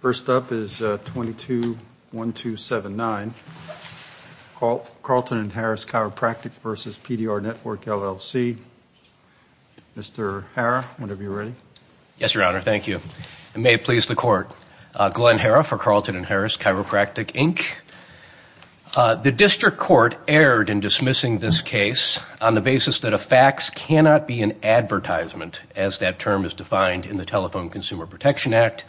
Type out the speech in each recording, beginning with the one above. First up is 221279, Carleton & Harris Chiropractic, Inc. v. PDR Network, LLC. Mr. Harrah, whenever you're ready. Yes, Your Honor. Thank you. And may it please the Court. Glenn Harrah for Carleton & Harris Chiropractic, Inc. The district court erred in dismissing this case on the basis that a fax cannot be an advertisement, as that term is defined in the Telephone Consumer Protection Act.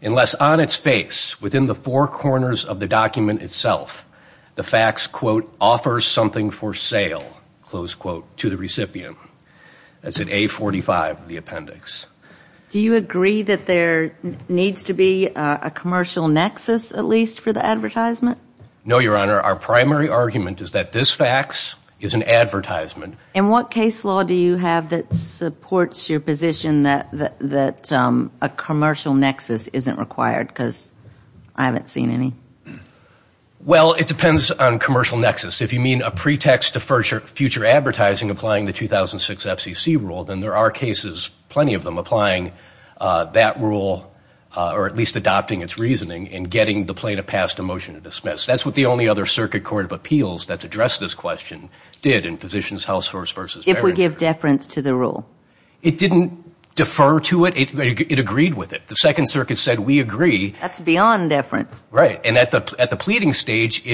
unless on its face, within the four corners of the document itself, the fax, quote, offers something for sale, close quote, to the recipient. That's in A45 of the appendix. Do you agree that there needs to be a commercial nexus, at least, for the advertisement? No, Your Honor. Our primary argument is that this fax is an advertisement. And what case law do you have that supports your position that a commercial nexus isn't required? Because I haven't seen any. Well, it depends on commercial nexus. If you mean a pretext to future advertising applying the 2006 FCC rule, then there are cases, plenty of them, applying that rule, or at least adopting its reasoning, and getting the plaintiff passed a motion to dismiss. If we give deference to the rule? It didn't defer to it. It agreed with it. The Second Circuit said, we agree. That's beyond deference. Right. And at the pleading stage,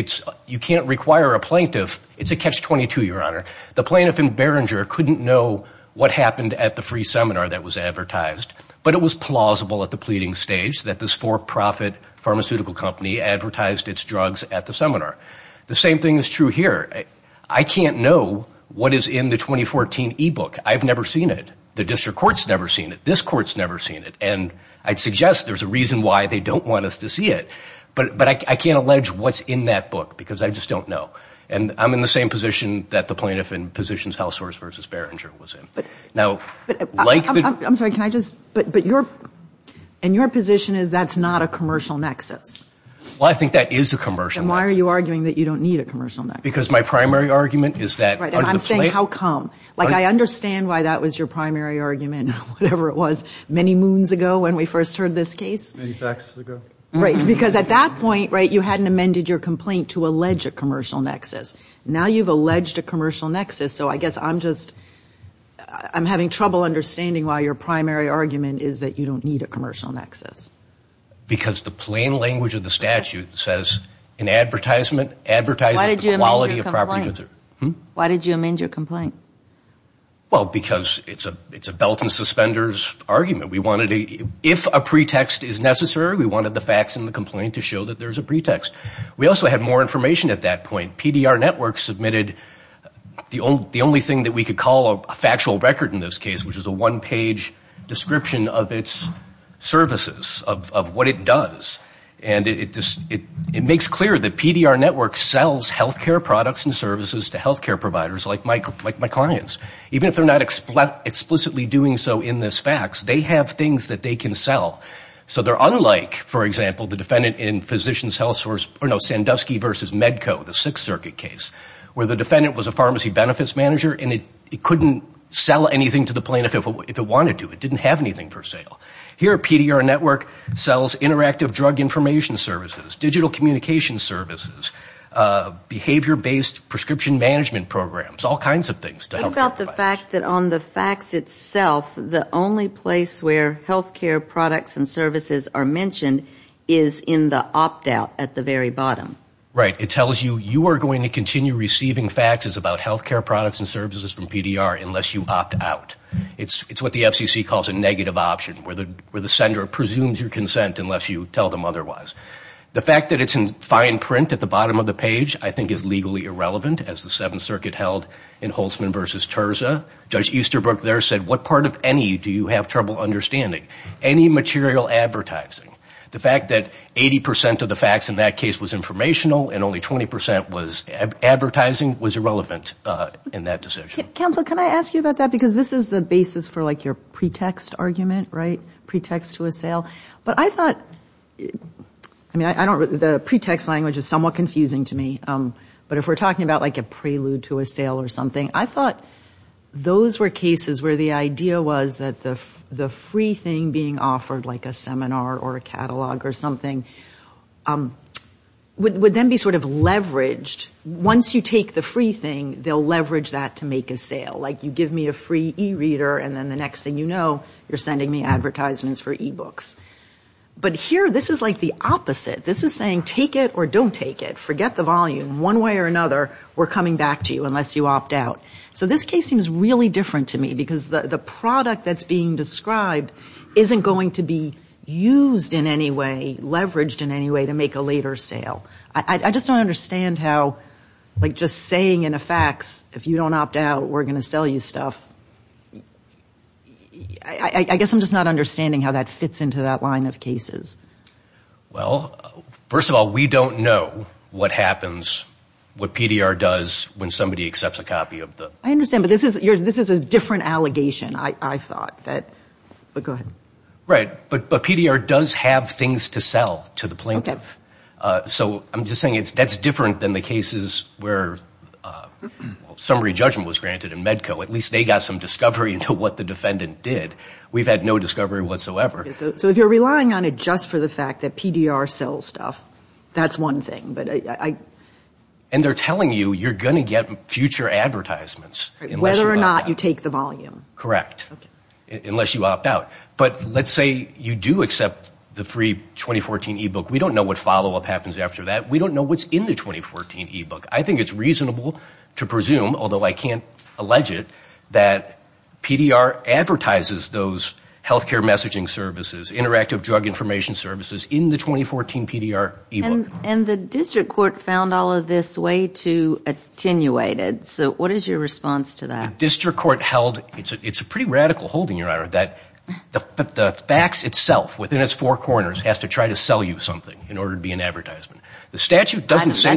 you can't require a plaintiff. It's a catch-22, Your Honor. The plaintiff in Beringer couldn't know what happened at the free seminar that was advertised, but it was plausible at the pleading stage that this for-profit pharmaceutical company advertised its drugs at the seminar. The same thing is true here. I can't know what is in the 2014 e-book. I've never seen it. The district court's never seen it. This court's never seen it. And I'd suggest there's a reason why they don't want us to see it. But I can't allege what's in that book, because I just don't know. And I'm in the same position that the plaintiff in Positions Hellsource v. Beringer was in. Now, like the — I'm sorry. Can I just — but your — and your position is that's not a commercial nexus. Well, I think that is a commercial nexus. And why are you arguing that you don't need a commercial nexus? Because my primary argument is that — Right, and I'm saying how come? Like, I understand why that was your primary argument, whatever it was, many moons ago when we first heard this case. Many faxes ago. Right, because at that point, right, you hadn't amended your complaint to allege a commercial nexus. Now you've alleged a commercial nexus, so I guess I'm just — I'm having trouble understanding why your primary argument is that you don't need a commercial nexus. Because the plain language of the statute says an advertisement advertises the quality of property. Why did you amend your complaint? Well, because it's a belt and suspenders argument. We wanted to — if a pretext is necessary, we wanted the facts in the complaint to show that there's a pretext. We also had more information at that point. PDR Network submitted the only thing that we could call a factual record in this case, which is a one-page description of its services, of what it does. And it makes clear that PDR Network sells health care products and services to health care providers like my clients. Even if they're not explicitly doing so in this fax, they have things that they can sell. So they're unlike, for example, the defendant in Sandusky v. Medco, the six-server, where the defendant was a pharmacy benefits manager and it couldn't sell anything to the plaintiff if it wanted to. It didn't have anything for sale. Here, PDR Network sells interactive drug information services, digital communication services, behavior-based prescription management programs, all kinds of things to health care providers. Think about the fact that on the fax itself, the only place where health care products and services are mentioned is in the opt-out at the very bottom. Right, it tells you, you are going to continue receiving faxes about health care products and services from PDR unless you opt out. It's what the FCC calls a negative option, where the sender presumes your consent unless you tell them otherwise. The fact that it's in fine print at the bottom of the page I think is legally irrelevant, as the Seventh Circuit held in Holtzman v. Terza. Judge Easterbrook there said, what part of any do you have trouble understanding? Any material advertising. The fact that 80% of the fax in that case was informational and only 20% was advertising was irrelevant in that decision. Counsel, can I ask you about that? Because this is the basis for like your pretext argument, right? Pretext to a sale. But I thought, I mean, the pretext language is somewhat confusing to me. But if we're talking about like a prelude to a sale or something, I thought those were cases where the idea was that the free thing being offered, like a seminar or a catalog or something, would then be sort of leveraged. Once you take the free thing, they'll leverage that to make a sale. Like you give me a free e-reader and then the next thing you know, you're sending me advertisements for e-books. But here this is like the opposite. This is saying take it or don't take it. Forget the volume. One way or another, we're coming back to you unless you opt out. So this case seems really different to me because the product that's being described isn't going to be used in any way, leveraged in any way to make a later sale. I just don't understand how like just saying in a fax, if you don't opt out, we're going to sell you stuff. I guess I'm just not understanding how that fits into that line of cases. Well, first of all, we don't know what happens, what PDR does when somebody accepts a copy. I understand, but this is a different allegation, I thought. But PDR does have things to sell to the plaintiff. So I'm just saying that's different than the cases where summary judgment was granted in Medco. At least they got some discovery into what the defendant did. We've had no discovery whatsoever. So if you're relying on it just for the fact that PDR sells stuff, that's one thing. And they're telling you you're going to get future advertisements. Whether or not you take the volume. Correct. Unless you opt out. But let's say you do accept the free 2014 e-book. We don't know what follow-up happens after that. We don't know what's in the 2014 e-book. I think it's reasonable to presume, although I can't allege it, that PDR advertises those health care messaging services, interactive drug information services in the 2014 PDR e-book. And the district court found all of this way too attenuated. So what is your response to that? It's a pretty radical holding, Your Honor, that the fax itself within its four corners has to try to sell you something in order to be an advertisement. That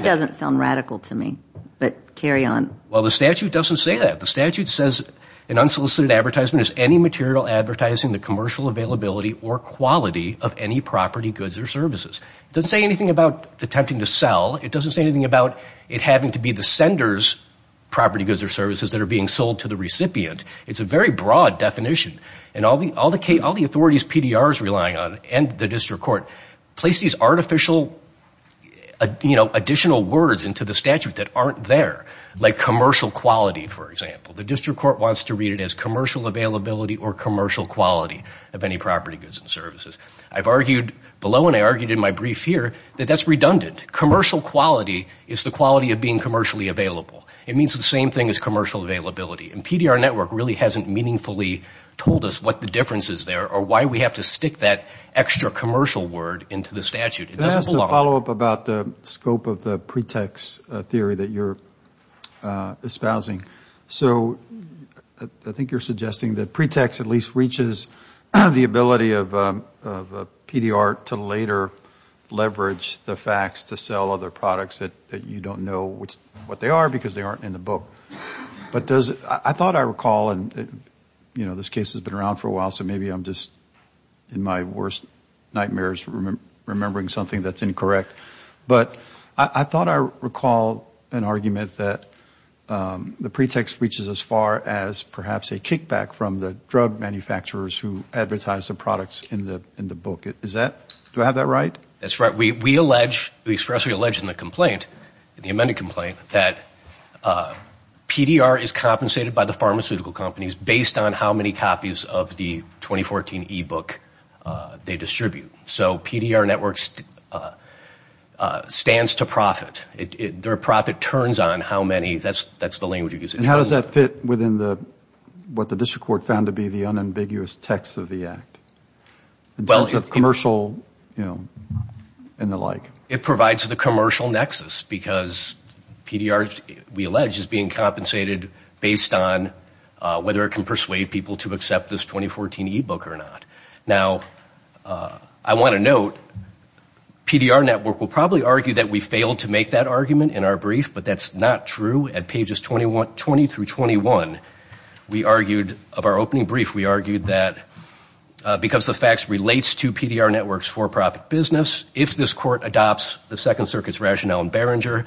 doesn't sound radical to me, but carry on. Well, the statute doesn't say that. The statute says an unsolicited advertisement is any material advertising the commercial availability or quality of any property, goods, or services. It doesn't say anything about attempting to sell. It doesn't say anything about it having to be the sender's property, goods, or services that are being sold to the recipient. It's a very broad definition. And all the authorities PDR is relying on, and the district court, place these artificial additional words into the statute that aren't there, like commercial quality, for example. The district court wants to read it as commercial availability or commercial quality of any property, goods, and services. I've argued below, and I argued in my brief here, that that's redundant. Commercial quality is the quality of being commercially available. It means the same thing as commercial availability, and PDR network really hasn't meaningfully told us what the difference is there or why we have to stick that extra commercial word into the statute. It doesn't belong. Can I ask a follow-up about the scope of the pretext theory that you're espousing? So I think you're suggesting that pretext at least reaches the ability of PDR to later leverage the fax to sell other products that you don't know what they are, because they aren't in the book. I thought I recall, and this case has been around for a while, so maybe I'm just in my worst nightmares remembering something that's incorrect. But I thought I recall an argument that the pretext reaches as far as perhaps a kickback from the drug manufacturers who advertise the products in the book. Do I have that right? That's right. We expressly allege in the complaint, in the amended complaint, that PDR is compensated by the pharmaceutical companies based on how many copies of the 2014 e-book they distribute. So PDR network stands to profit. Their profit turns on how many, that's the language you use. And how does that fit within what the district court found to be the unambiguous text of the act? It provides the commercial nexus, because PDR, we allege, is being compensated based on whether it can persuade people to accept this 2014 e-book or not. Now, I want to note, PDR network will probably argue that we failed to make that argument in our brief, but that's not true at pages 20 through 21. We argued, of our opening brief, we argued that because the fax relates to PDR network's for-profit business, if this court adopts the Second Circuit's rationale in Behringer,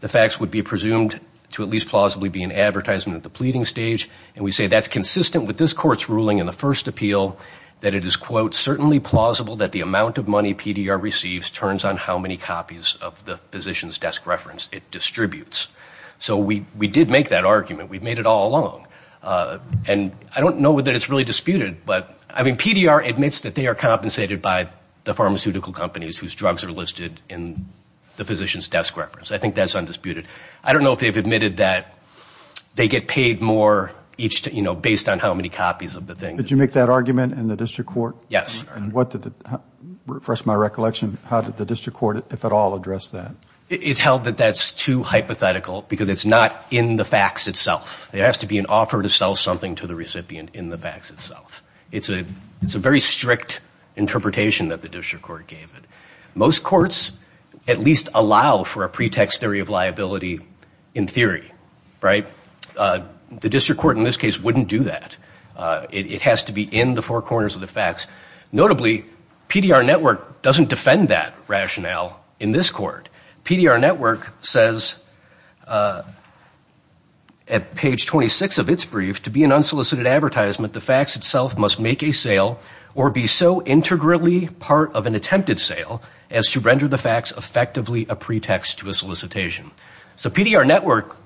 the fax would be presumed to at least plausibly be an advertisement at the pleading stage. And we say that's consistent with this court's ruling in the first appeal, that it is, quote, certainly plausible that the amount of money PDR receives turns on how many copies of the physician's desk reference it distributes. So we did make that argument. We've made it all along. And I don't know that it's really disputed, but, I mean, PDR admits that they are compensated by the pharmaceutical companies whose drugs are listed in the physician's desk reference. I think that's undisputed. I don't know if they've admitted that they get paid more each, you know, based on how many copies of the thing. Did you make that argument in the district court? Yes. And what did the, for the rest of my recollection, how did the district court, if at all, address that? It held that that's too hypothetical because it's not in the fax itself. It has to be an offer to sell something to the recipient in the fax itself. It's a very strict interpretation that the district court gave it. Most courts at least allow for a pretext theory of liability in theory, right? The district court in this case wouldn't do that. It has to be in the four corners of the fax. Notably, PDR Network doesn't defend that rationale in this court. PDR Network says at page 26 of its brief, to be an unsolicited advertisement, the fax itself must make a sale or be so integrally part of an attempted sale as to render the fax effectively a pretext to a solicitation. So PDR Network,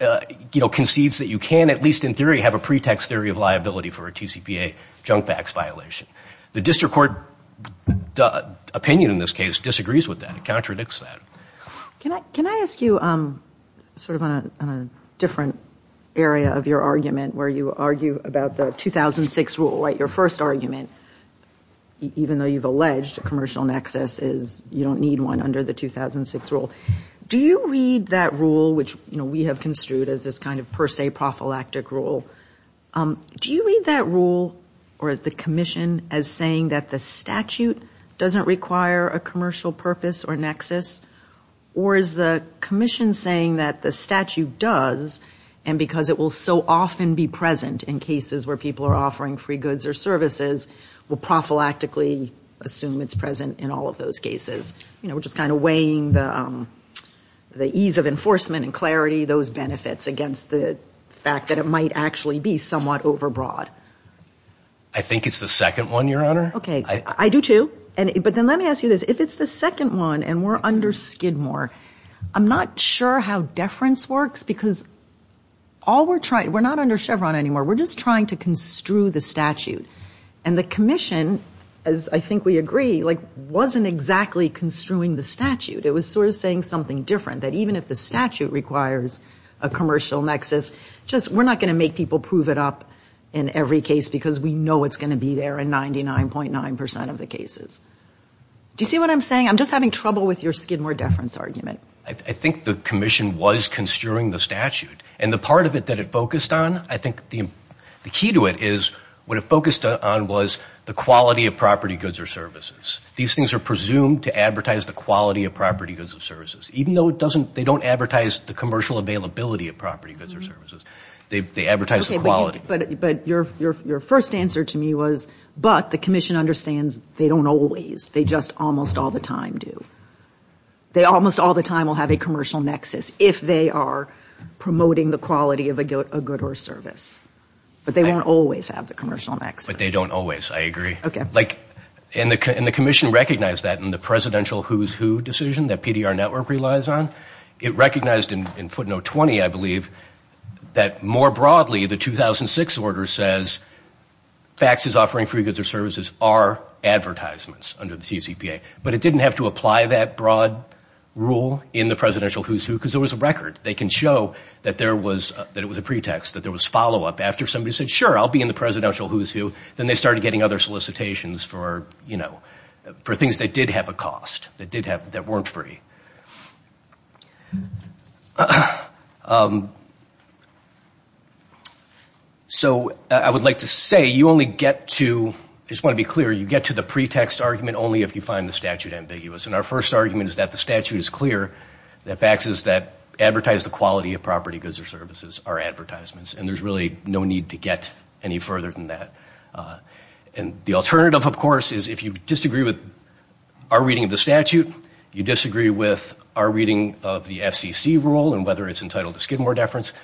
you know, concedes that you can at least in theory have a pretext theory of liability for a TCPA junk fax violation. The district court opinion in this case disagrees with that. It contradicts that. Can I ask you sort of on a different area of your argument where you argue about the 2006 rule, right? Your first argument, even though you've alleged a commercial nexus is you don't need one under the 2006 rule. Do you read that rule, which, you know, we have construed as this kind of per se prophylactic rule, do you read that rule or the commission as saying that the statute doesn't require a commercial purpose or nexus? Or is the commission saying that the statute does and because it will so often be present in cases where people are offering free goods or services, will prophylactically assume it's present in all of those cases? You know, we're just kind of weighing the ease of enforcement and clarity, those benefits, against the fact that it might actually be somewhat overbroad. I think it's the second one, Your Honor. Okay. I do, too. But then let me ask you this. If it's the second one and we're under Skidmore, I'm not sure how deference works because all we're trying, we're not under Chevron anymore. We're just trying to construe the statute. And the commission, as I think we agree, like wasn't exactly construing the statute. It was sort of saying something different, that even if the statute requires a commercial nexus, just we're not going to make people prove it up in every case because we know it's going to be there in 99.9% of the cases. Do you see what I'm saying? I'm just having trouble with your Skidmore deference argument. I think the commission was construing the statute, and the part of it that it focused on, I think the key to it is what it focused on was the quality of property goods or services. These things are presumed to advertise the quality of property goods or services, even though they don't advertise the commercial availability of property goods or services. They advertise the quality. But your first answer to me was, but the commission understands they don't always. They just almost all the time do. They almost all the time will have a commercial nexus if they are promoting the quality of a good or service. But they won't always have the commercial nexus. But they don't always. I agree. And the commission recognized that in the presidential who's who decision that PDR Network relies on. It recognized in footnote 20, I believe, that more broadly the 2006 order says, faxes offering free goods or services are advertisements under the CCPA. But it didn't have to apply that broad rule in the presidential who's who because there was a record. They can show that it was a pretext, that there was follow-up after somebody said, sure, I'll be in the presidential who's who. Then they started getting other solicitations for things that did have a cost, that weren't free. So I would like to say you only get to, I just want to be clear, you get to the pretext argument only if you find the statute ambiguous. And our first argument is that the statute is clear that faxes that advertise the quality of property, goods or services are advertisements. And there's really no need to get any further than that. And the alternative, of course, is if you disagree with our reading of the statute, you disagree with our reading of the FCC rule and whether it's entitled to skid more deference,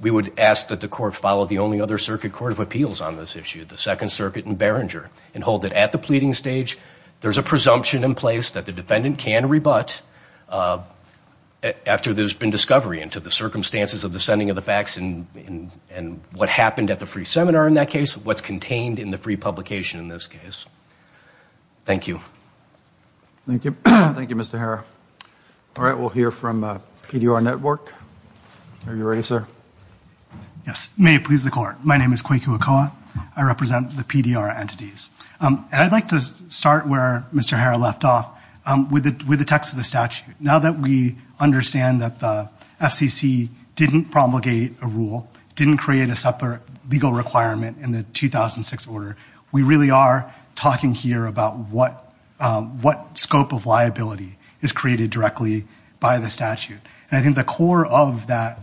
we would ask that the court follow the only other circuit court of appeals on this issue, the Second Circuit in Beringer, and hold that at the pleading stage, there's a presumption in place that the defendant can rebut after there's been discovery into the circumstances of the sending of the fax and what happened at the free seminar in that case, what's contained in the free publication in this case. Thank you. Thank you. Thank you, Mr. Harrah. All right. We'll hear from PDR Network. Are you ready, sir? Yes. May it please the court. My name is Kwaku Okoa. I represent the PDR entities. And I'd like to start where Mr. Harrah left off with the text of the statute. Now that we understand that the FCC didn't promulgate a rule, didn't create a separate legal requirement in the 2006 order, we really are talking here about what scope of liability is created directly by the statute. And I think the core of that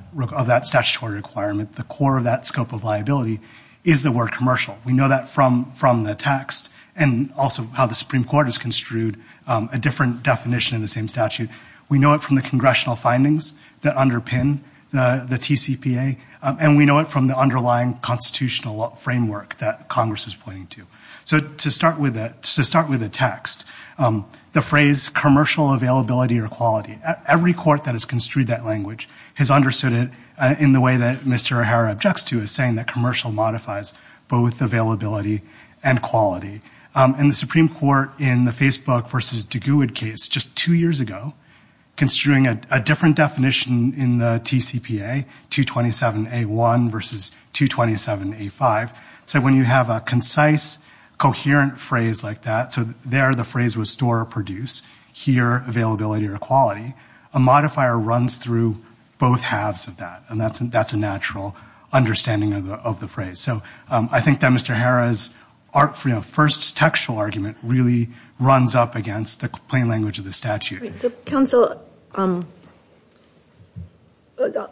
statutory requirement, the core of that scope of liability is the word commercial. We know that from the text and also how the Supreme Court has construed a different definition in the same statute. We know it from the congressional findings that underpin the TCPA. And we know it from the underlying constitutional framework that Congress is pointing to. So to start with a text, the phrase commercial availability or quality, every court that has construed that language has understood it in the way that Mr. Harrah objects to, is saying that commercial modifies both availability and quality. And the Supreme Court in the Facebook versus Duguid case just two years ago, construing a different definition in the TCPA, 227A1 versus 227A5, said when you have a concise, coherent phrase like that, so there the phrase was store or produce, here availability or quality, a modifier runs through both halves of that. And that's a natural understanding of the phrase. So I think that Mr. Harrah's first textual argument really runs up against the plain language of the statute. So counsel,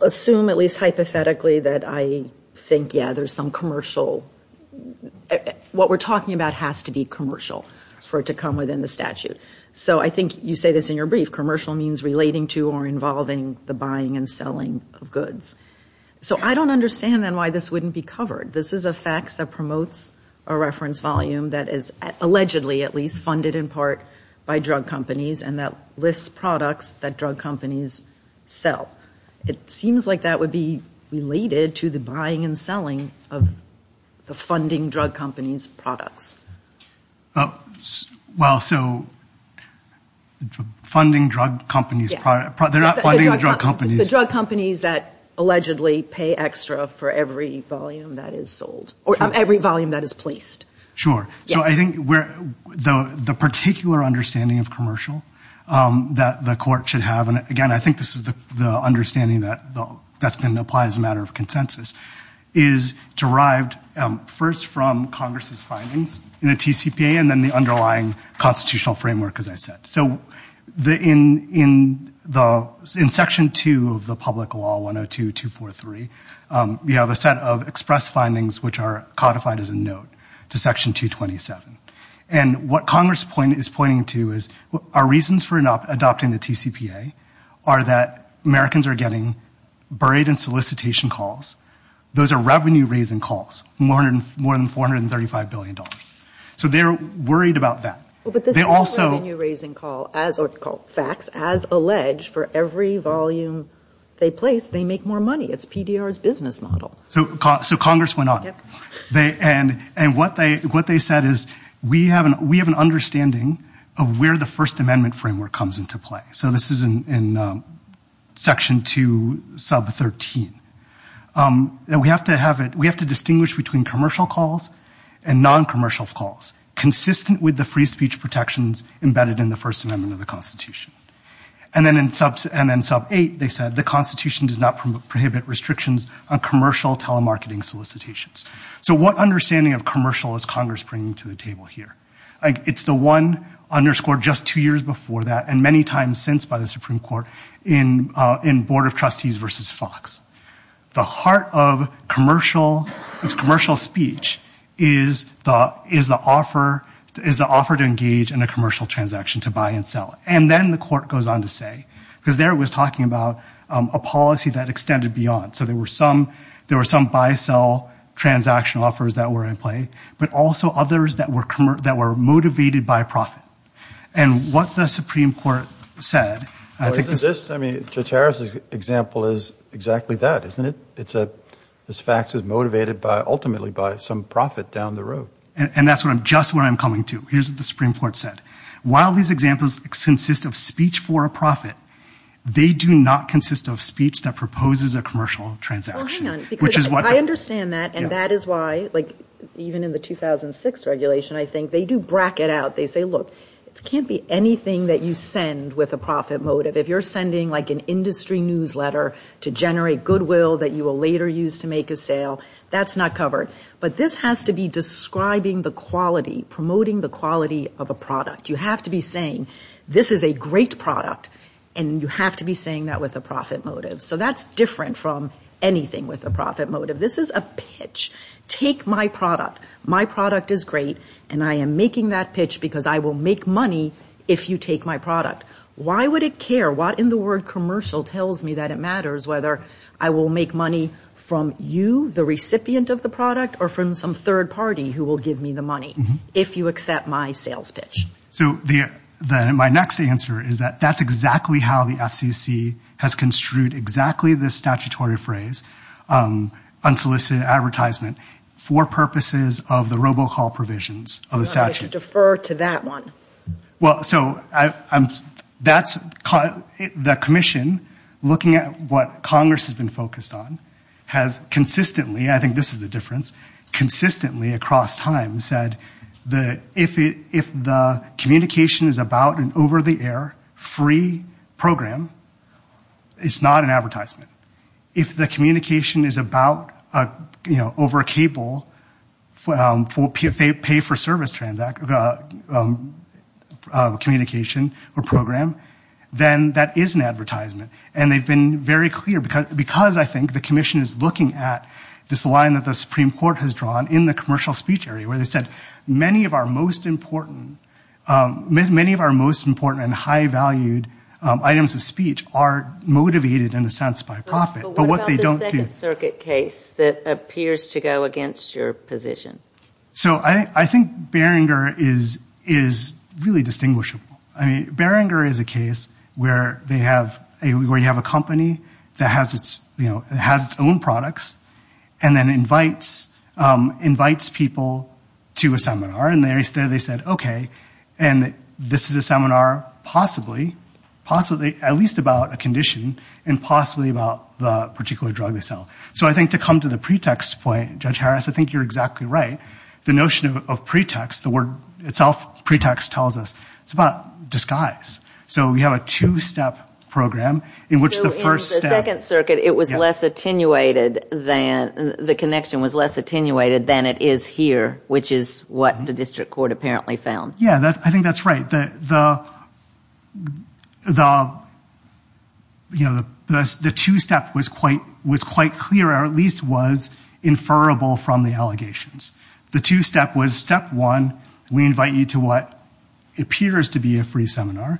assume at least hypothetically that I think, yeah, there's some commercial, what we're talking about has to be commercial for it to come within the statute. So I think you say this in your brief, commercial means relating to or involving the buying and selling of goods. So I don't understand then why this wouldn't be covered. This is a fact that promotes a reference volume that is allegedly at least funded in part by drug companies and that lists products that drug companies sell. It seems like that would be related to the buying and selling of the funding drug companies' products. Well, so funding drug companies' products, they're not funding the drug companies. The drug companies that allegedly pay extra for every volume that is sold or every volume that is placed. Sure. So I think the particular understanding of commercial that the court should have, and again, I think this is the understanding that's been applied as a matter of consensus, is derived first from Congress's findings in the TCPA and then the underlying constitutional framework, as I said. So in Section 2 of the Public Law 102-243, you have a set of express findings which are codified as a note to Section 227. And what Congress is pointing to is our reasons for adopting the TCPA are that Americans are getting buried in solicitation calls. Those are revenue-raising calls, more than $435 billion. So they're worried about that. But this is a revenue-raising call, or facts, as alleged for every volume they place, they make more money. It's PDR's business model. So Congress went on. And what they said is we have an understanding of where the First Amendment framework comes into play. So this is in Section 2, sub 13. We have to distinguish between commercial calls and non-commercial calls, consistent with the free speech protections embedded in the First Amendment of the Constitution. And then in sub 8, they said the Constitution does not prohibit restrictions on commercial telemarketing solicitations. So what understanding of commercial is Congress bringing to the table here? It's the one underscored just two years before that, and many times since by the Supreme Court, in Board of Trustees versus Fox. The heart of commercial speech is the offer to engage in a commercial transaction to buy and sell. And then the Court goes on to say, because there it was talking about a policy that extended beyond. So there were some buy-sell transaction offers that were in play, but also others that were motivated by profit. And what the Supreme Court said, I think... I mean, Judge Harris' example is exactly that, isn't it? This fact is motivated ultimately by some profit down the road. And that's just where I'm coming to. Here's what the Supreme Court said. While these examples consist of speech for a profit, they do not consist of speech that proposes a commercial transaction. I understand that, and that is why, even in the 2006 regulation, I think they do bracket out. They say, look, it can't be anything that you send with a profit motive. If you're sending an industry newsletter to generate goodwill that you will later use to make a sale, that's not covered. But this has to be describing the quality, promoting the quality of a product. You have to be saying, this is a great product, and you have to be saying that with a profit motive. So that's different from anything with a profit motive. This is a pitch. Take my product. My product is great, and I am making that pitch because I will make money if you take my product. Why would it care? What in the word commercial tells me that it matters whether I will make money from you, the recipient of the product, or from some third party who will give me the money if you accept my sales pitch? So my next answer is that that's exactly how the FCC has construed exactly this statutory phrase, unsolicited advertisement, for purposes of the robocall provisions of the statute. I should defer to that one. The commission, looking at what Congress has been focused on, has consistently, I think this is the difference, across time, said that if the communication is about an over-the-air, free program, it's not an advertisement. If the communication is about over a cable, pay-for-service communication or program, and they've been very clear, because I think the commission is looking at this line that the Supreme Court has drawn in the commercial speech area, where they said many of our most important and high-valued items of speech are motivated, in a sense, by profit. But what about the Second Circuit case that appears to go against your position? So I think Beringer is really distinguishable. Beringer is a case where you have a company that has its own products, and then invites people to a seminar. And they said, okay, this is a seminar possibly, at least about a condition, and possibly about the particular drug they sell. So I think to come to the pretext point, Judge Harris, I think you're exactly right. The notion of pretext, the word itself, pretext, tells us it's about disguise. So we have a two-step program in which the first step... So in the Second Circuit, it was less attenuated than, the connection was less attenuated than it is here, which is what the district court apparently found. Yeah, I think that's right. But the two-step was quite clear, or at least was inferrable from the allegations. The two-step was step one, we invite you to what appears to be a free seminar.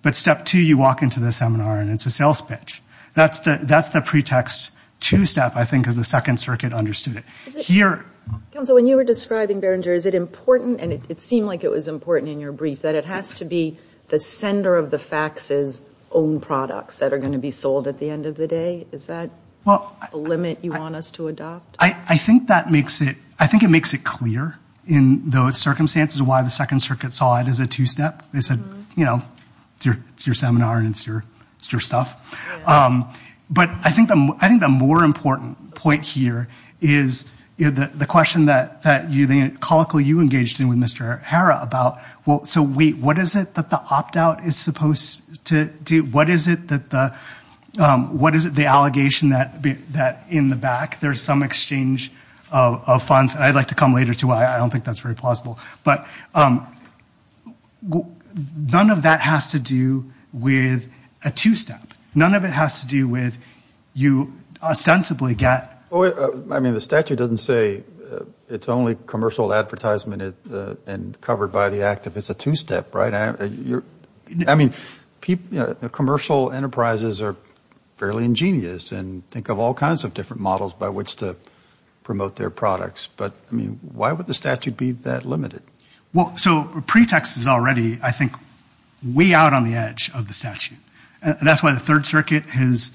But step two, you walk into the seminar and it's a sales pitch. That's the pretext two-step, I think, because the Second Circuit understood it. Counsel, when you were describing Behringer, is it important, and it seemed like it was important in your brief, that it has to be the sender of the faxes' own products that are going to be sold at the end of the day? Is that the limit you want us to adopt? I think it makes it clear in those circumstances why the Second Circuit saw it as a two-step. They said, you know, it's your seminar and it's your stuff. But I think the more important point here is the question that, the callicle you engaged in with Mr. Hara about, so wait, what is it that the opt-out is supposed to do? What is it the allegation that in the back there's some exchange of funds? I'd like to come later to why I don't think that's very plausible. But none of that has to do with a two-step. None of it has to do with you ostensibly get... I mean, the statute doesn't say it's only commercial advertisement and covered by the act if it's a two-step, right? I mean, commercial enterprises are fairly ingenious and think of all kinds of different models by which to promote their products. But, I mean, why would the statute be that limited? Well, so pretext is already, I think, way out on the edge of the statute. And that's why the Third Circuit has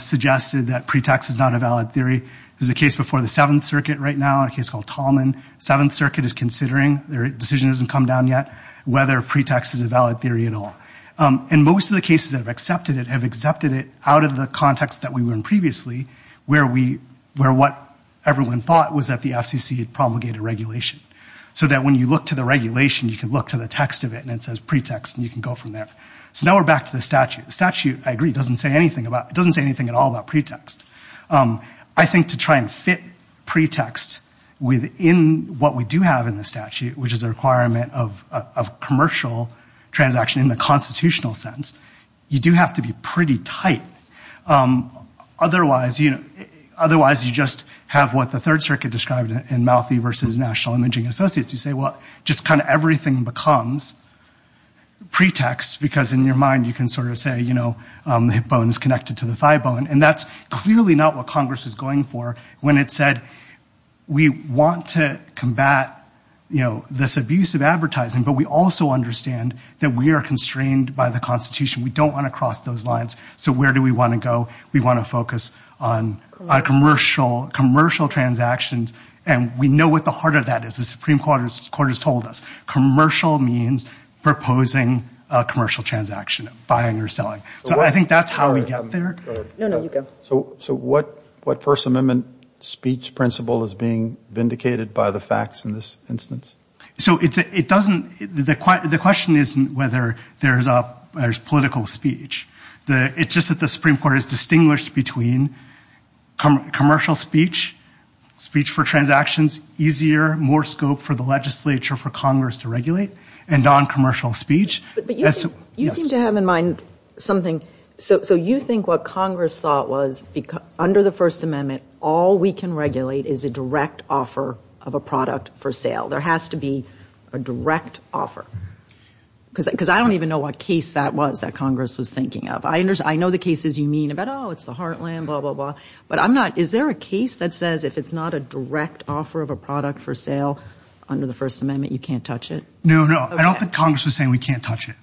suggested that pretext is not a valid theory. There's a case before the Seventh Circuit right now, a case called Tallman. Seventh Circuit is considering, their decision hasn't come down yet, whether pretext is a valid theory at all. And most of the cases that have accepted it have accepted it out of the context that we were in previously where what everyone thought was that the FCC promulgated regulation. So that when you look to the regulation, you can look to the text of it and it says pretext and you can go from there. So now we're back to the statute. The statute, I agree, doesn't say anything at all about pretext. I think to try and fit pretext within what we do have in the statute, which is a requirement of commercial transaction in the constitutional sense, you do have to be pretty tight. Otherwise, you just have what the Third Circuit described in Mouthy versus National Imaging Associates. You say, well, just kind of everything becomes pretext because in your mind you can sort of say, you know, the hip bone is connected to the thigh bone, and that's clearly not what Congress was going for when it said we want to combat, you know, this abuse of advertising, but we also understand that we are constrained by the Constitution. We don't want to cross those lines. So where do we want to go? We want to focus on commercial transactions. And we know what the heart of that is. The Supreme Court has told us commercial means proposing a commercial transaction, buying or selling. So I think that's how we get there. So what First Amendment speech principle is being vindicated by the facts in this instance? So it doesn't, the question isn't whether there's political speech. It's just that the Supreme Court has distinguished between commercial speech, speech for transactions, easier, more scope for the legislature for Congress to regulate, and noncommercial speech. But you seem to have in mind something. So you think what Congress thought was under the First Amendment, all we can regulate is a direct offer of a product for sale. There has to be a direct offer. Because I don't even know what case that was that Congress was thinking of. I know the cases you mean about, oh, it's the heartland, blah, blah, blah. But I'm not, is there a case that says if it's not a direct offer of a product for sale under the First Amendment, you can't touch it? No, no, I don't think Congress was saying we can't touch it.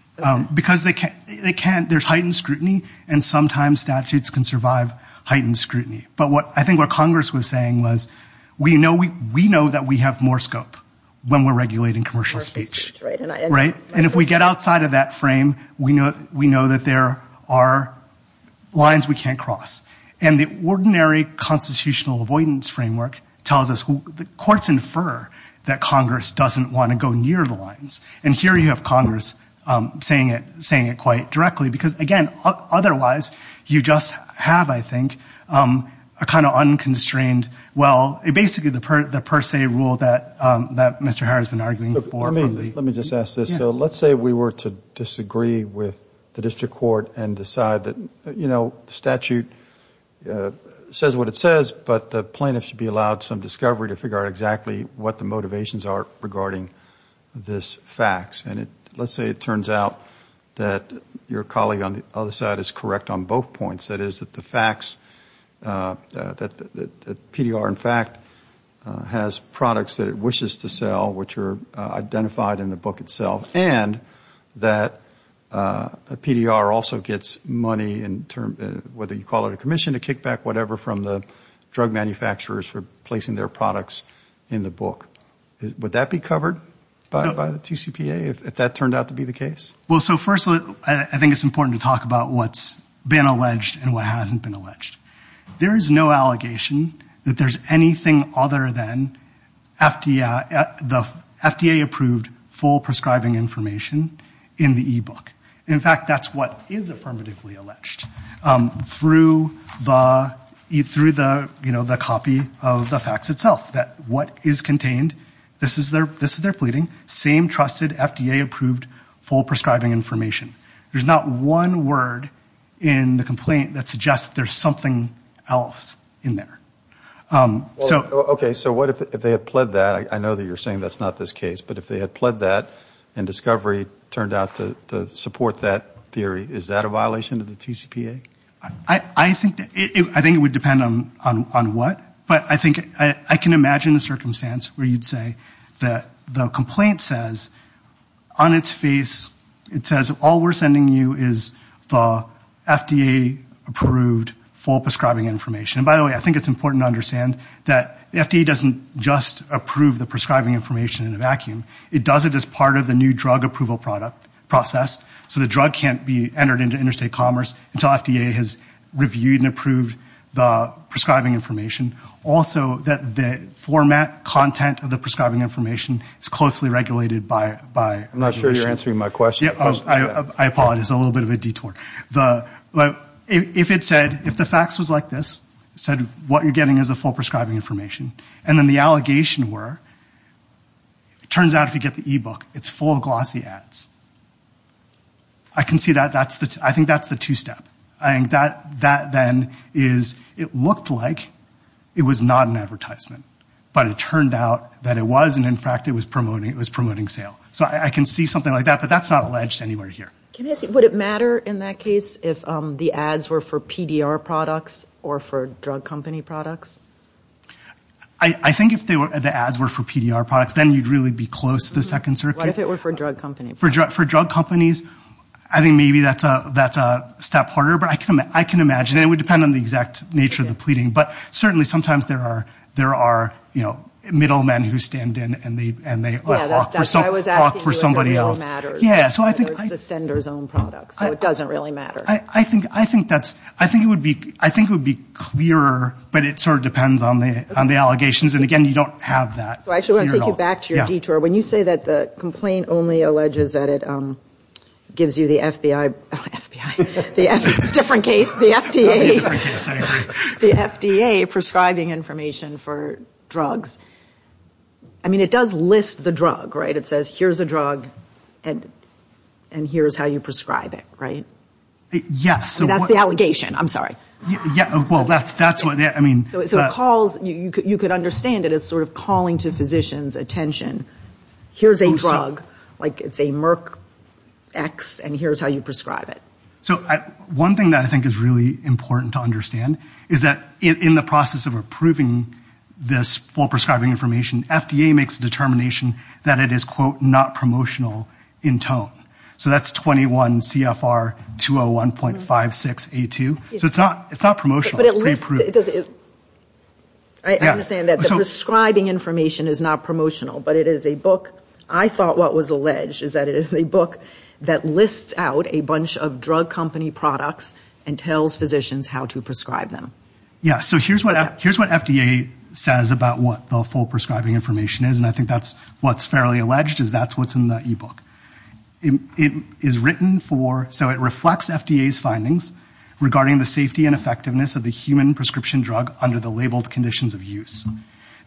Because they can't, there's heightened scrutiny, and sometimes statutes can survive heightened scrutiny. But I think what Congress was saying was we know that we have more scope when we're regulating commercial speech. And if we get outside of that frame, we know that there are lines we can't cross. And the ordinary constitutional avoidance framework tells us, the courts infer that Congress doesn't want to go near the lines. And here you have Congress saying it quite directly. Because, again, otherwise, you just have, I think, a kind of unconstrained, well, basically the per se rule that Mr. Harris has been arguing for. Let me just ask this. So let's say we were to disagree with the district court and decide that, you know, the statute says what it says, but the plaintiff should be allowed some discovery to figure out exactly what the motivations are regarding this fax. And let's say it turns out that your colleague on the other side is correct on both points. That is, that the fax, that the PDR, in fact, has products that it wishes to sell, which are identified in the book itself. And that the PDR also gets money, whether you call it a commission, a kickback, whatever, from the plaintiff. And the PDR gets money from the drug manufacturers for placing their products in the book. Would that be covered by the TCPA, if that turned out to be the case? Well, so first, I think it's important to talk about what's been alleged and what hasn't been alleged. There is no allegation that there's anything other than the FDA approved full prescribing information in the e-book. In fact, that's what is affirmatively alleged. You know, the copy of the fax itself, that what is contained, this is their pleading, same trusted FDA approved full prescribing information. There's not one word in the complaint that suggests there's something else in there. Okay, so what if they had pled that, I know that you're saying that's not this case, but if they had pled that and discovery turned out to support that theory, is that a violation of the TCPA? I think it would depend on what. But I think I can imagine a circumstance where you'd say that the complaint says, on its face it says all we're sending you is the FDA approved full prescribing information. And by the way, I think it's important to understand that the FDA doesn't just approve the prescribing information in a vacuum. It does it as part of the new drug approval process. So the drug can't be entered into interstate commerce until FDA has reviewed and approved the prescribing information. Also that the format content of the prescribing information is closely regulated by. I'm not sure you're answering my question. I apologize, a little bit of a detour. If it said, if the fax was like this, it said what you're getting is the full prescribing information, and then the allegation were, it turns out if you get the e-book, it's full of glossy ads. I can see that, I think that's the two-step. That then is, it looked like it was not an advertisement, but it turned out that it was, and in fact it was promoting sale. So I can see something like that, but that's not alleged anywhere here. Can I ask you, would it matter in that case if the ads were for PDR products or for drug company products? I think if the ads were for PDR products, then you'd really be close to the second circuit. What if it were for drug company products? For drug companies, I think maybe that's a step harder, but I can imagine, and it would depend on the exact nature of the pleading, but certainly sometimes there are middle men who stand in and they all talk for somebody else. There's the sender's own products, so it doesn't really matter. I think it would be clearer, but it sort of depends on the allegations, and again, you don't have that. So I just want to take you back to your detour. When you say that the complaint only alleges that it gives you the FBI, different case, the FDA. The FDA prescribing information for drugs. I mean, it does list the drug, right? It says here's a drug and here's how you prescribe it, right? And that's the allegation, I'm sorry. You could understand it as sort of calling to physicians' attention. Here's a drug, like it's a Merck X, and here's how you prescribe it. So one thing that I think is really important to understand is that in the process of approving this full prescribing information, FDA makes the determination that it is, quote, not promotional in tone. So that's 21 CFR 201.56A2. So it's not promotional, it's pre-approved. I understand that the prescribing information is not promotional, but it is a book. I thought what was alleged is that it is a book that lists out a bunch of drug company products and tells physicians how to prescribe them. Yeah, so here's what FDA says about what the full prescribing information is, and I think that's what's fairly alleged is that's what's in the e-book. It is written for, so it reflects FDA's findings regarding the safety and effectiveness of the human prescription drug under the labeled conditions of use.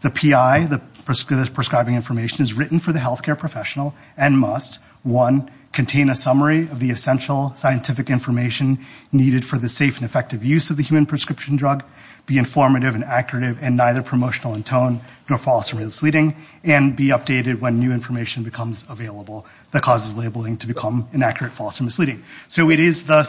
The PI, the prescribing information is written for the healthcare professional and must, one, contain a summary of the essential scientific information needed for the safe and effective use of the human prescription drug, be informative and accurate and neither promotional in tone nor false or misleading, and be updated when new information becomes available that causes labeling to become inaccurate, false or misleading. So it is the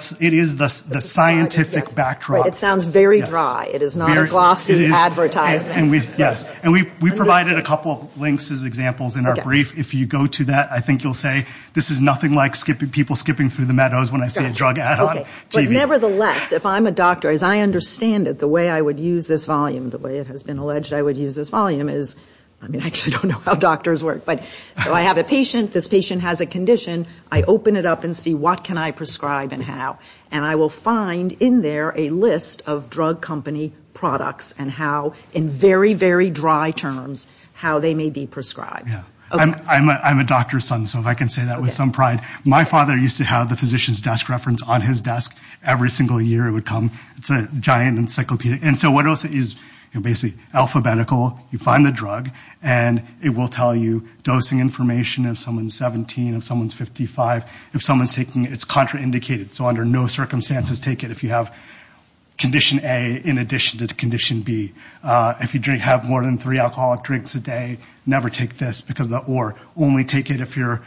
scientific backdrop. It sounds very dry, it is not a glossy advertisement. Yes, and we provided a couple of links as examples in our brief. If you go to that, I think you'll say this is nothing like people skipping through the meadows when I see a drug ad on TV. But nevertheless, if I'm a doctor, as I understand it, the way I would use this volume, the way it has been alleged I would use this volume is, I mean, I actually don't know how doctors work, but so I have a patient, this patient has a condition, I open it up and see what can I prescribe and how. And I will find in there a list of drug company products and how, in very, very dry terms, how they may be prescribed. I'm a doctor's son, so if I can say that with some pride. My father used to have the physician's desk reference on his desk every single year it would come. It's a giant encyclopedia. And so what else is basically alphabetical, you find the drug and it will tell you dosing information of someone's 17, of someone's 55. If someone's taking it, it's contraindicated. So under no circumstances take it if you have condition A in addition to condition B. If you drink, have more than three alcoholic drinks a day, never take this because of the or. Only take it if you're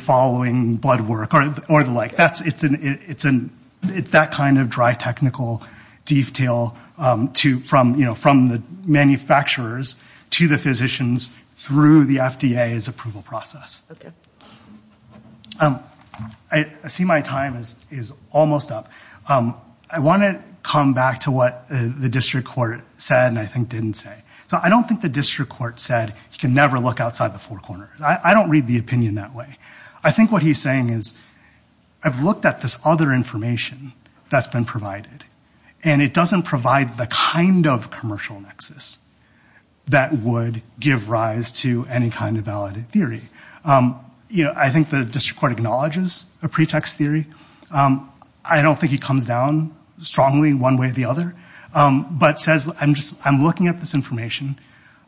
following blood work or the like. It's that kind of dry technical detail from the manufacturers to the physicians through the FDA's approval process. I see my time is almost up. I want to come back to what the district court said and I think didn't say. So I don't think the district court said you can never look outside the four corners. I don't read the opinion that way. I think what he's saying is I've looked at this other information that's been provided and it doesn't provide the kind of commercial nexus that would give rise to any kind of valid theory. I think the district court acknowledges a pretext theory. I don't think he comes down strongly one way or the other. But says I'm looking at this information,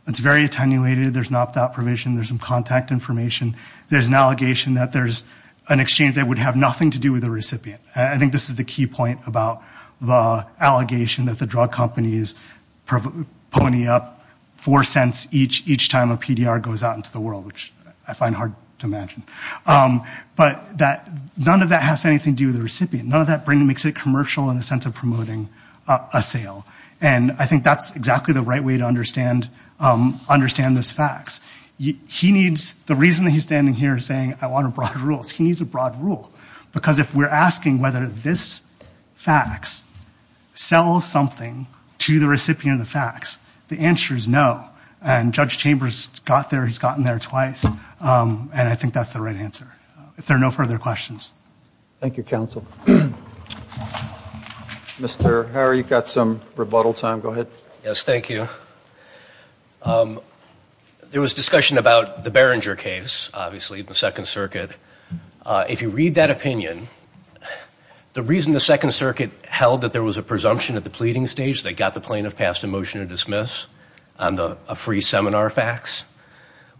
it's very attenuated, there's an opt out provision, there's some contact information. There's an allegation that there's an exchange that would have nothing to do with the recipient. I think this is the key point about the allegation that the drug companies pony up four cents each time a PDR goes out into the world, which I find hard to imagine. But none of that has anything to do with the recipient. None of that makes it commercial in the sense of promoting a sale. And I think that's exactly the right way to understand this fax. The reason he's standing here is saying I want a broad rule. He needs a broad rule because if we're asking whether this fax sells something to the recipient of the fax, the answer is no. And Judge Chambers got there, he's gotten there twice, and I think that's the right answer. If there are no further questions. Thank you, counsel. Mr. Harry, you've got some rebuttal time. Go ahead. Yes, thank you. There was discussion about the Barringer case, obviously, in the Second Circuit. If you read that opinion, the reason the Second Circuit held that there was a presumption at the pleading stage that got the plaintiff passed a motion to dismiss on a free seminar fax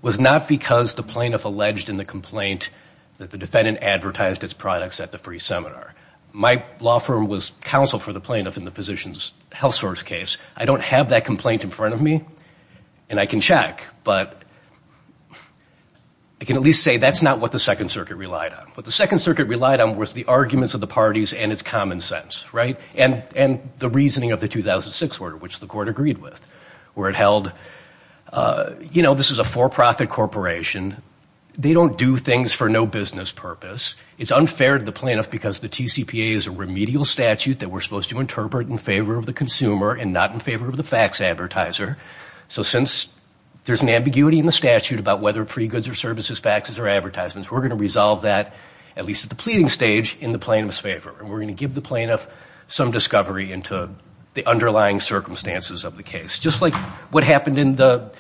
was not because the plaintiff alleged in the complaint that the defendant advertised its products at the free seminar. My law firm was counsel for the plaintiff in the physician's health source case. I don't have that complaint in front of me, and I can check, but I can at least say that's not what the Second Circuit relied on. What the Second Circuit relied on was the arguments of the parties and its common sense, right, and the reasoning of the 2006 order, which the court agreed with, where it held, you know, this is a for-profit corporation. They don't do things for no business purpose. It's unfair to the plaintiff because the TCPA is a remedial statute that we're supposed to interpret in favor of the consumer and not in favor of the fax advertiser. So since there's an ambiguity in the statute about whether free goods or services, faxes or advertisements, we're going to resolve that, at least at the pleading stage, in the plaintiff's favor. And we're going to give the plaintiff some discovery into the underlying circumstances of the case. Just like what happened in the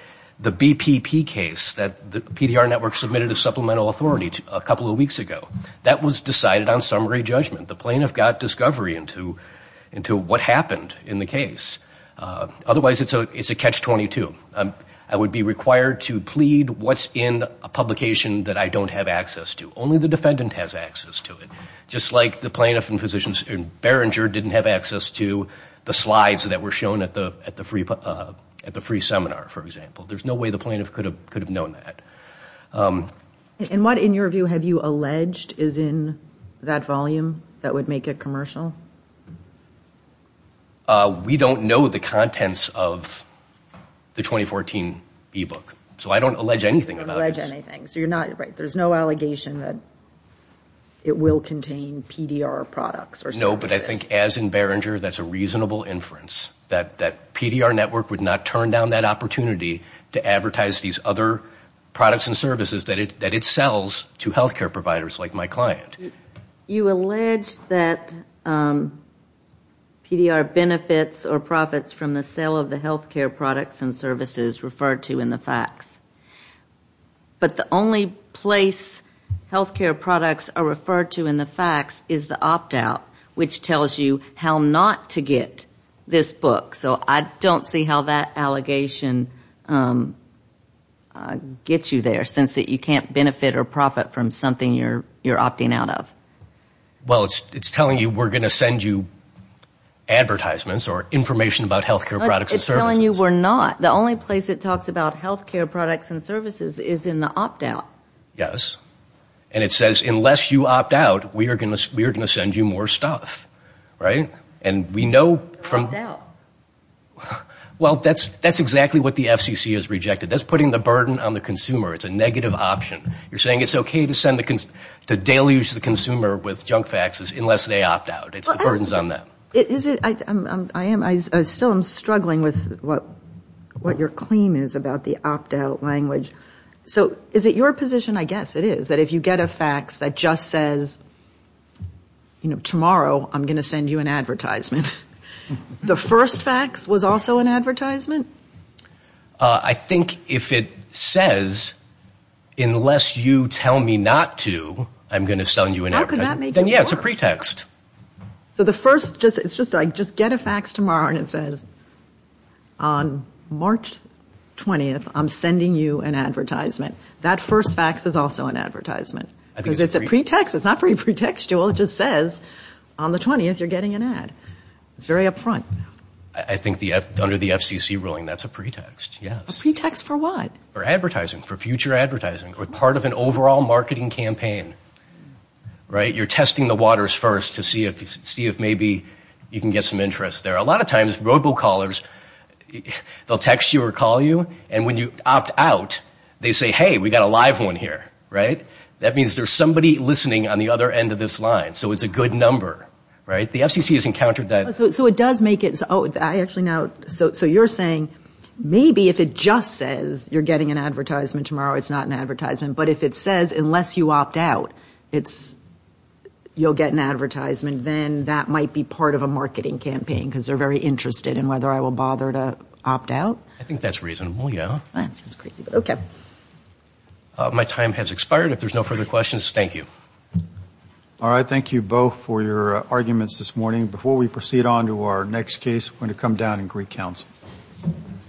BPP case that the PDR Network submitted as supplemental authority a couple of weeks ago. That was decided on summary judgment. The plaintiff got discovery into what happened in the case. Otherwise, it's a catch-22. I would be required to plead what's in a publication that I don't have access to. Only the defendant has access to it. Just like the plaintiff and physicians in Beringer didn't have access to the slides that were shown at the free seminar, for example. There's no way the plaintiff could have known that. We don't know the contents of the 2014 e-book. So I don't allege anything about this. No, but I think as in Beringer, that's a reasonable inference. That PDR Network would not turn down that opportunity to advertise these other products and services that it sells to health care providers like my client. You allege that PDR benefits or profits from the sale of the health care products and services referred to in the fax. But the only place health care products are referred to in the fax is the opt-out, which tells you how not to get this book. So I don't see how that allegation gets you there since you can't benefit or profit from something you're opting out of. Well, it's telling you we're going to send you advertisements or information about health care products and services. It's telling you we're not. The only place it talks about health care products and services is in the opt-out. Yes. And it says unless you opt out, we are going to send you more stuff, right? And we know from... That's putting the burden on the consumer. It's a negative option. You're saying it's okay to deluge the consumer with junk faxes unless they opt out. It's the burdens on them. I still am struggling with what your claim is about the opt-out language. So is it your position, I guess it is, that if you get a fax that just says, you know, tomorrow I'm going to send you an advertisement, the first fax was also an advertisement? I think if it says unless you tell me not to, I'm going to send you an advertisement. How could that make it worse? Yeah, it's a pretext. So the first, it's just like, just get a fax tomorrow and it says, on March 20th, I'm sending you an advertisement. That first fax is also an advertisement. Because it's a pretext, it's not very pretextual, it just says on the 20th you're getting an ad. It's very upfront. I think under the FCC ruling, that's a pretext, yes. A pretext for what? For advertising, for future advertising, or part of an overall marketing campaign. You're testing the waters first to see if maybe you can get some interest there. A lot of times, robo-callers, they'll text you or call you, and when you opt out, they say, hey, we've got a live one here. That means there's somebody listening on the other end of this line, so it's a good number. The FCC has encountered that. So you're saying maybe if it just says you're getting an advertisement tomorrow, it's not an advertisement, but if it says unless you opt out, you'll get an advertisement, then that might be part of a marketing campaign, because they're very interested in whether I will bother to opt out? I think that's reasonable, yeah. My time has expired. If there's no further questions, thank you. All right, thank you both for your arguments this morning.